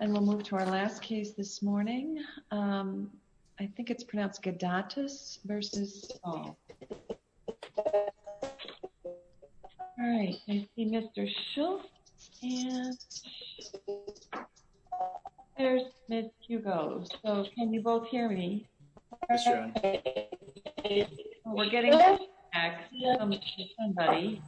And we'll move to our last case this morning. I think it's pronounced Gedatus v. Saul. All right, I see Mr. Schultz, and there's Ms. Hugo. So can you both hear me? Yes, your honor. We're getting an axiom from somebody.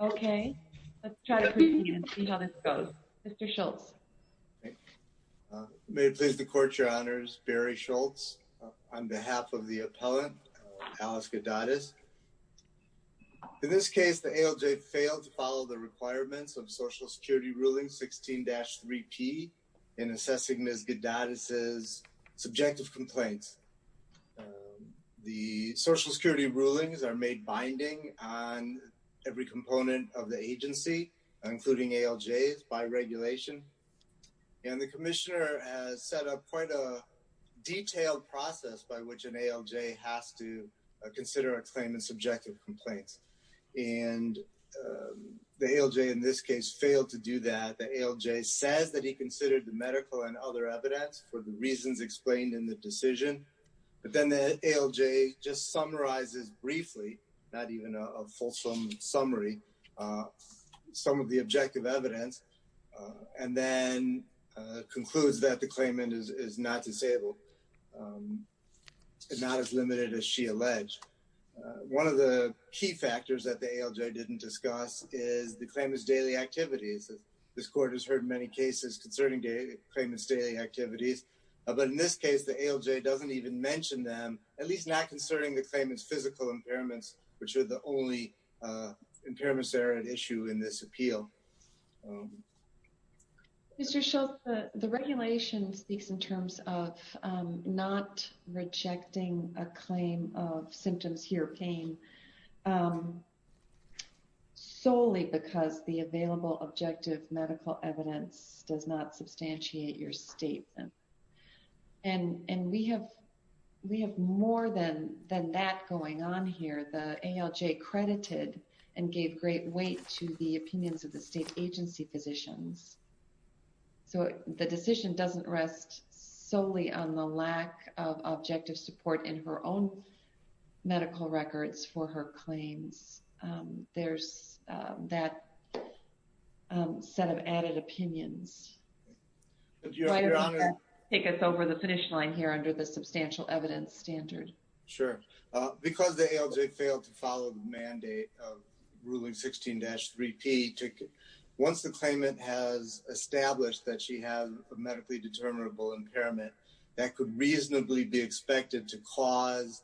Okay, let's try to proceed and see how this goes. Mr. Schultz. May it please the court, your honors, Barry Schultz on behalf of the appellant, Alice Gedatus. In this case, the ALJ failed to follow the requirements of social security ruling 16-3P in assessing Ms. Gedatus' subjective complaints. The social security rulings are made binding on every component of the agency, including ALJs by regulation. And the commissioner has set up quite a detailed process by which an ALJ has to consider a claim in subjective complaints. And the ALJ in this case failed to do that. The ALJ says that he considered the medical and other evidence for the reasons explained in the decision. But then the ALJ just summarizes briefly, not even a fulsome summary, some of the objective evidence, and then concludes that the claimant is not disabled, and not as limited as she alleged. One of the key factors that the ALJ didn't discuss is the claimant's daily activities. This court has heard many cases concerning the claimant's daily activities. But in this case, the ALJ doesn't even mention them, at least not concerning the claimant's physical impairments, which are the only impairments that are at issue Mr. Schultz, the regulation speaks in terms of not rejecting a claim of symptoms, here pain, solely because the available objective medical evidence does not substantiate your statement. And we have more than that going on here. The ALJ credited and gave great weight to the opinions of the state agency physicians. So the decision doesn't rest solely on the lack of objective support in her own medical records for her claims. There's that set of added opinions. Would you like to take us over the finish line here under the substantial evidence standard? Sure, because the ALJ failed to follow the mandate of ruling 16-3P ticket, once the claimant has established that she has a medically determinable impairment, that could reasonably be expected to cause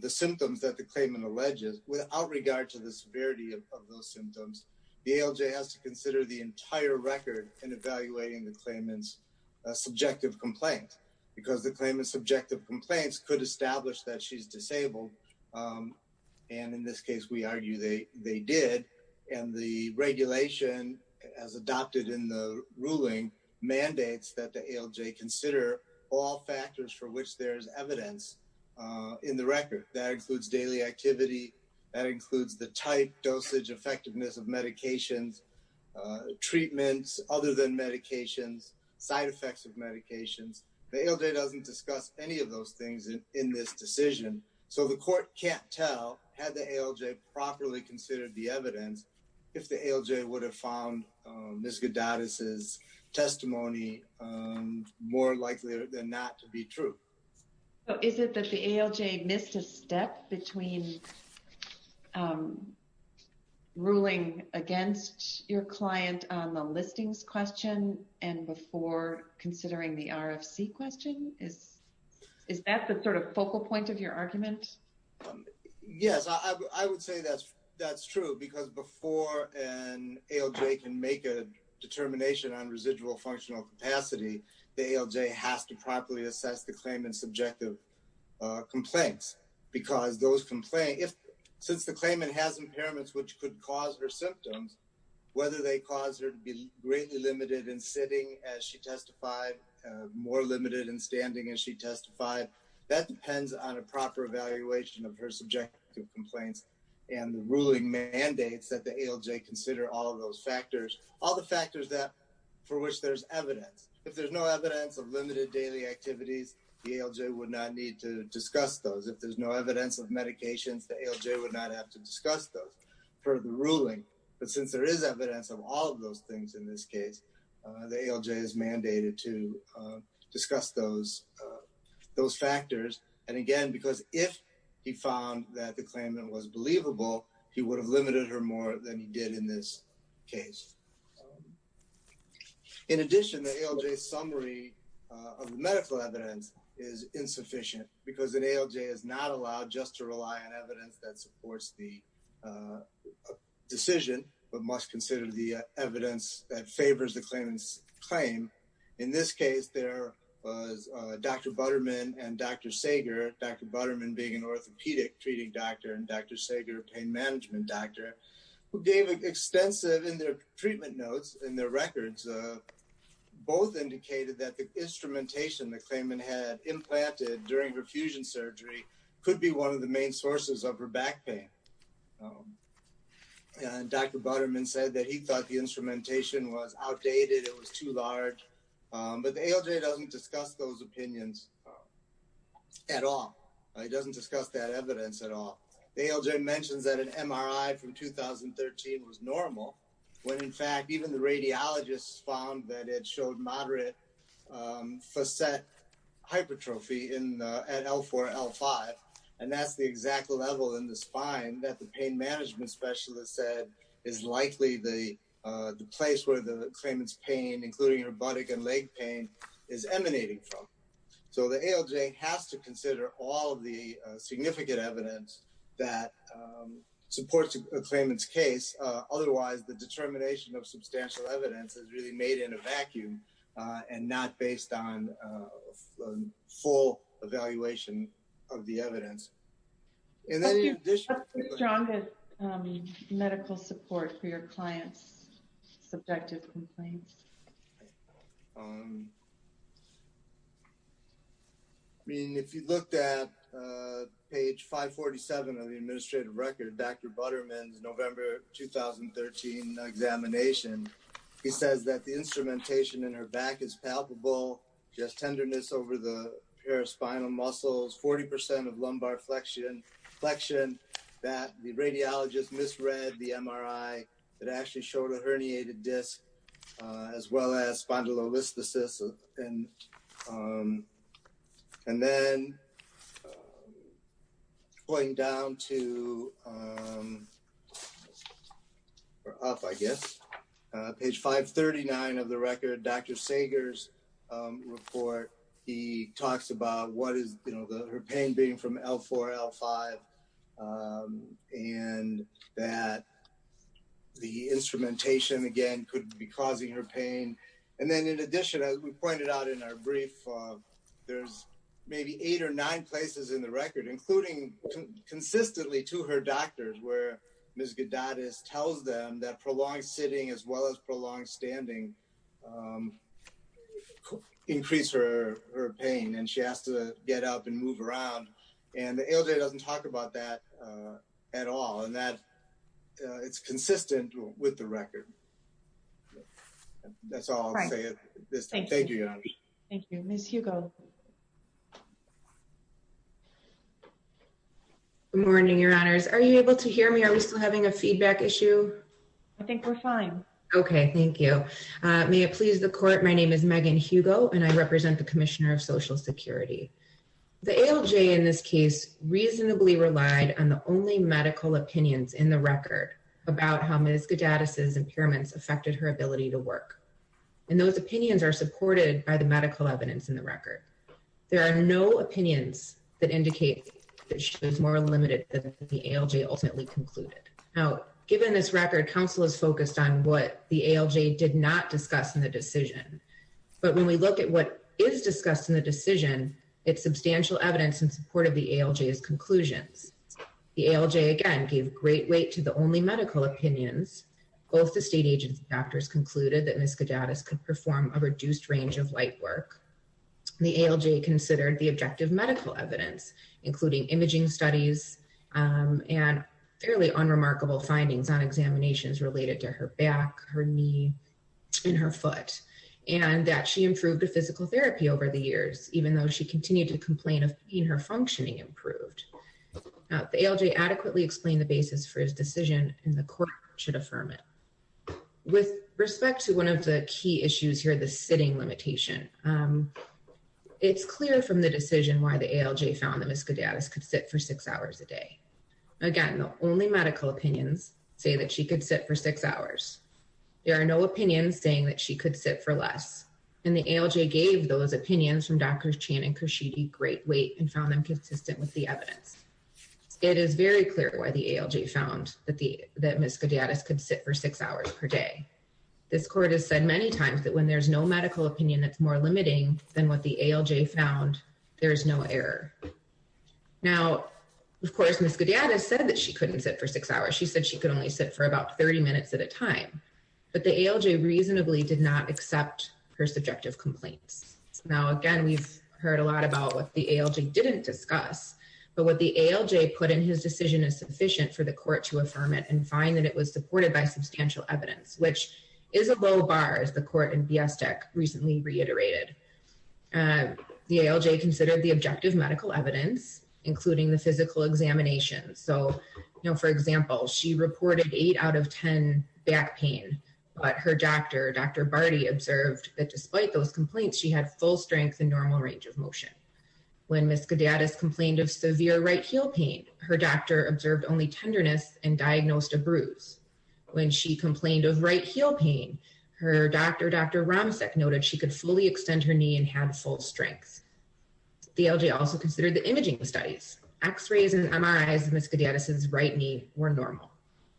the symptoms that the claimant alleges, without regard to the severity of those symptoms, the ALJ has to consider the entire record in evaluating the claimant's subjective complaint, because the claimant's subjective complaints could establish that she's disabled. And in this case, we argue they did. And the regulation, as adopted in the ruling, mandates that the ALJ consider all factors for which there's evidence in the record. That includes daily activity, that includes the type, dosage, effectiveness of medications, treatments other than medications, side effects of medications. The ALJ doesn't discuss any of those things in this decision. So the court can't tell, had the ALJ properly considered the evidence, if the ALJ would have found Ms. Gadadis' testimony more likely than not to be true. So is it that the ALJ missed a step between ruling against your client on the listings question, and before considering the RFC question? Is that the sort of focal point of your argument? Yes, I would say that's true, because before an ALJ can make a determination on residual functional capacity, the ALJ has to properly assess the claimant's subjective complaints. Because those complaints, since the claimant has impairments which could cause her symptoms, whether they cause her to be greatly limited in sitting as she testified, more limited in standing as she testified, that depends on a proper evaluation of her subjective complaints, and the ruling mandates that the ALJ consider all of those factors, all the factors for which there's evidence. If there's no evidence of limited daily activities, the ALJ would not need to discuss those. If there's no evidence of medications, the ALJ would not have to discuss those for the ruling. But since there is evidence of all of those things in this case, the ALJ is mandated to discuss those factors. And again, because if he found that the claimant was believable, he would have limited her more than he did in this case. In addition, the ALJ summary of the medical evidence is insufficient because an ALJ is not allowed just to rely on evidence that supports the decision, but must consider the evidence that favors the claimant's claim. In this case, there was Dr. Butterman and Dr. Sager, Dr. Butterman being an orthopedic treating doctor and Dr. Sager, a pain management doctor, who gave extensive in their treatment notes and their records, both indicated that the instrumentation the claimant had implanted during her fusion surgery could be one of the main sources of her back pain. And Dr. Butterman said that he thought the instrumentation was outdated, it was too large, but the ALJ doesn't discuss those opinions at all. It doesn't discuss that evidence at all. The ALJ mentions that an MRI from 2013 was normal, when in fact, even the radiologists found that it showed moderate facet hypertrophy at L4, L5. And that's the exact level in the spine that the pain management specialist said is likely the place where the claimant's pain, including her buttock and leg pain, is emanating from. So the ALJ has to consider all the significant evidence that supports a claimant's case. Otherwise, the determination of substantial evidence is really made in a vacuum and not based on full evaluation of the evidence. And then in addition- What's the strongest medical support for your client's subjective complaints? I mean, if you looked at page 547 of the administrative record, Dr. Butterman's November, 2013 examination, he says that the instrumentation in her back is palpable, just tenderness over the paraspinal muscles, 40% of lumbar flexion, that the radiologist misread the MRI that actually showed a herniated disc as well as spondylolisthesis. And then going down to, or up, I guess, page 539 of the record, Dr. Sager's report, he talks about what is her pain being from L4, L5, and that the instrumentation, again, could be causing her pain. And then in addition, as we pointed out in our brief, there's maybe eight or nine places in the record, including consistently to her doctors where Ms. Gadadis tells them that prolonged sitting as well as prolonged standing increase her pain. And she has to get up and move around. And the ALJ doesn't talk about that at all, and that it's consistent with the record. That's all I'll say at this time. Thank you, Your Honor. Thank you. Ms. Hugo. Good morning, Your Honors. Are you able to hear me? Are we still having a feedback issue? I think we're fine. Okay, thank you. May it please the court, my name is Megan Hugo, and I represent the Commissioner of Social Security. The ALJ in this case reasonably relied on the only medical opinions in the record about how Ms. Gadadis' impairments affected her ability to work. And those opinions are supported by the medical evidence in the record. There are no opinions that indicate that she was more limited than the ALJ ultimately concluded. Now, given this record, council is focused on what the ALJ did not discuss in the decision. But when we look at what is discussed in the decision, it's substantial evidence in support of the ALJ's conclusions. The ALJ, again, gave great weight to the only medical opinions. Both the state agents and doctors concluded that Ms. Gadadis could perform a reduced range of light work. The ALJ considered the objective medical evidence, including imaging studies, and fairly unremarkable findings on examinations related to her back, her knee, and her foot, and that she improved her physical therapy over the years, even though she continued to complain of being her functioning improved. The ALJ adequately explained the basis for his decision, and the court should affirm it. With respect to one of the key issues here, the sitting limitation, it's clear from the decision why the ALJ found that Ms. Gadadis could sit for six hours a day. Again, the only medical opinions say that she could sit for six hours. There are no opinions saying that she could sit for less. And the ALJ gave those opinions from Drs. Chan and Khurshidi great weight and found them consistent with the evidence. It is very clear why the ALJ found that Ms. Gadadis could sit for six hours per day. This court has said many times that when there's no medical opinion that's more limiting than what the ALJ found, there is no error. Now, of course, Ms. Gadadis said that she couldn't sit for six hours. She said she could only sit for about 30 minutes at a time, but the ALJ reasonably did not accept her subjective complaints. Now, again, we've heard a lot about what the ALJ didn't discuss, but what the ALJ put in his decision is sufficient for the court to affirm it and find that it was supported by substantial evidence, which is a low bar, as the court in Biestek recently reiterated. The ALJ considered the objective medical evidence, including the physical examination. So now, for example, she reported eight out of 10 back pain, but her doctor, Dr. Barty observed that despite those complaints, she had full strength and normal range of motion. When Ms. Gadadis complained of severe right heel pain, her doctor observed only tenderness and diagnosed a bruise. When she complained of right heel pain, her doctor, Dr. Romsek noted, that she could fully extend her knee and had full strength. The ALJ also considered the imaging studies. X-rays and MRIs of Ms. Gadadis' right knee were normal.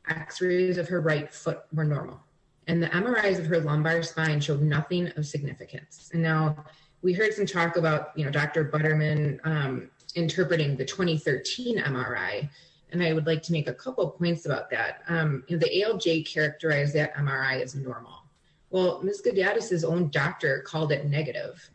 X-rays of her right foot were normal. And the MRIs of her lumbar spine showed nothing of significance. And now, we heard some talk about Dr. Butterman interpreting the 2013 MRI, and I would like to make a couple of points about that. The ALJ characterized that MRI as normal. Well, Ms. Gadadis' own doctor called it negative.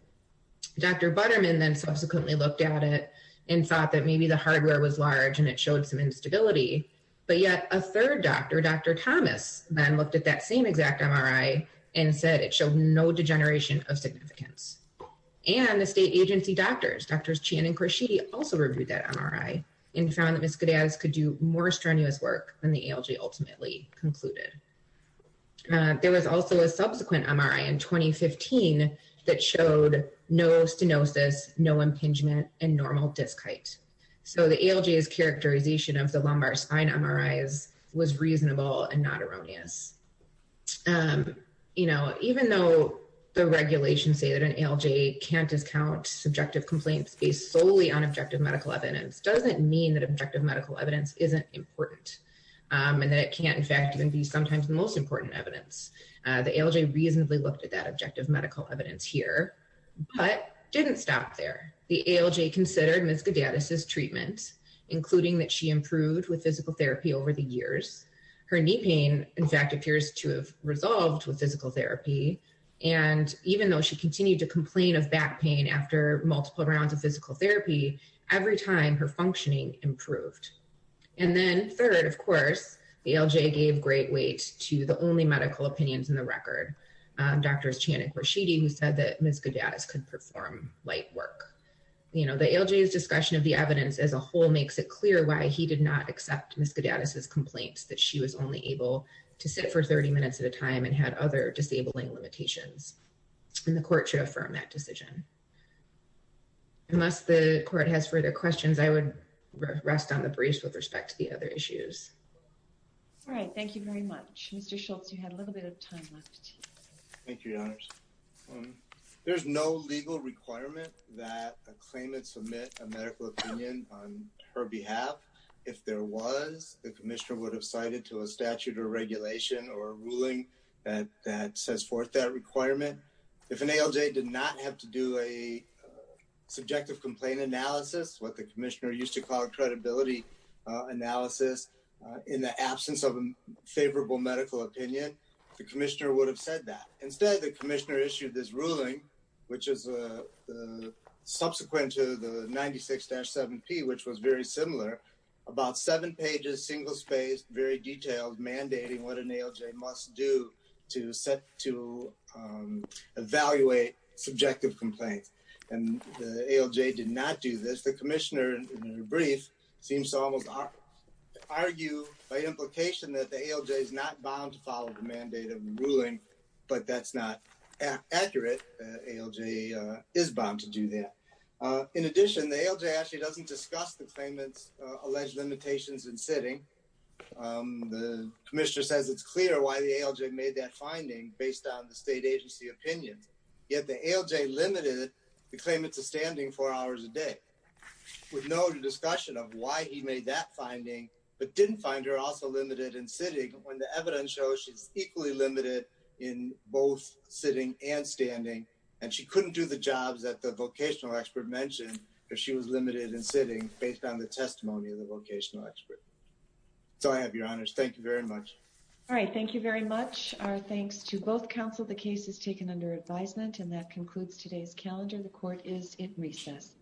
Dr. Butterman then subsequently looked at it and thought that maybe the hardware was large and it showed some instability, but yet a third doctor, Dr. Thomas, then looked at that same exact MRI and said it showed no degeneration of significance. And the state agency doctors, Drs. Chien and Korshidi also reviewed that MRI and found that Ms. Gadadis could do more strenuous work than the ALJ ultimately concluded. There was also a subsequent MRI in 2015 that showed no stenosis, no impingement, and normal disc height. So the ALJ's characterization of the lumbar spine MRIs was reasonable and not erroneous. You know, even though the regulations say that an ALJ can't discount subjective complaints based solely on objective medical evidence isn't important and that it can't in fact even be sometimes the most important evidence. The ALJ reasonably looked at that objective medical evidence here, but didn't stop there. The ALJ considered Ms. Gadadis' treatment, including that she improved with physical therapy over the years. Her knee pain, in fact, appears to have resolved with physical therapy. And even though she continued to complain of back pain after multiple rounds of physical therapy, every time her functioning improved. And then third, of course, the ALJ gave great weight to the only medical opinions in the record, Drs. Chan and Quarshidi, who said that Ms. Gadadis could perform light work. You know, the ALJ's discussion of the evidence as a whole makes it clear why he did not accept Ms. Gadadis' complaints that she was only able to sit for 30 minutes at a time and had other disabling limitations. And the court should affirm that decision. Unless the court has further questions, I would rest on the briefs with respect to the other issues. All right, thank you very much. Mr. Schultz, you had a little bit of time left. Thank you, Your Honors. There's no legal requirement that a claimant submit a medical opinion on her behalf. If there was, the commissioner would have cited to a statute or regulation or a ruling that sets forth that requirement. If an ALJ did not have to do a subjective complaint analysis, what the commissioner used to call a credibility analysis in the absence of a favorable medical opinion, the commissioner would have said that. Instead, the commissioner issued this ruling, which is subsequent to the 96-7P, which was very similar, about seven pages, single-spaced, very detailed, mandating what an ALJ must do to evaluate subjective complaints. And the ALJ did not do this. The commissioner, in her brief, seems to almost argue by implication that the ALJ is not bound to follow the mandate of ruling, but that's not accurate. ALJ is bound to do that. In addition, the ALJ actually doesn't discuss the claimant's alleged limitations in sitting. The commissioner says it's clear why the ALJ made that finding based on the state agency opinions. Yet the ALJ limited the claimant's standing four hours a day, with no discussion of why he made that finding, but didn't find her also limited in sitting when the evidence shows she's equally limited in both sitting and standing, and she couldn't do the jobs that the vocational expert mentioned if she was limited in sitting based on the testimony of the vocational expert. So I have your honors. Thank you very much. All right, thank you very much. Our thanks to both counsel. The case is taken under advisement, and that concludes today's calendar. The court is at recess.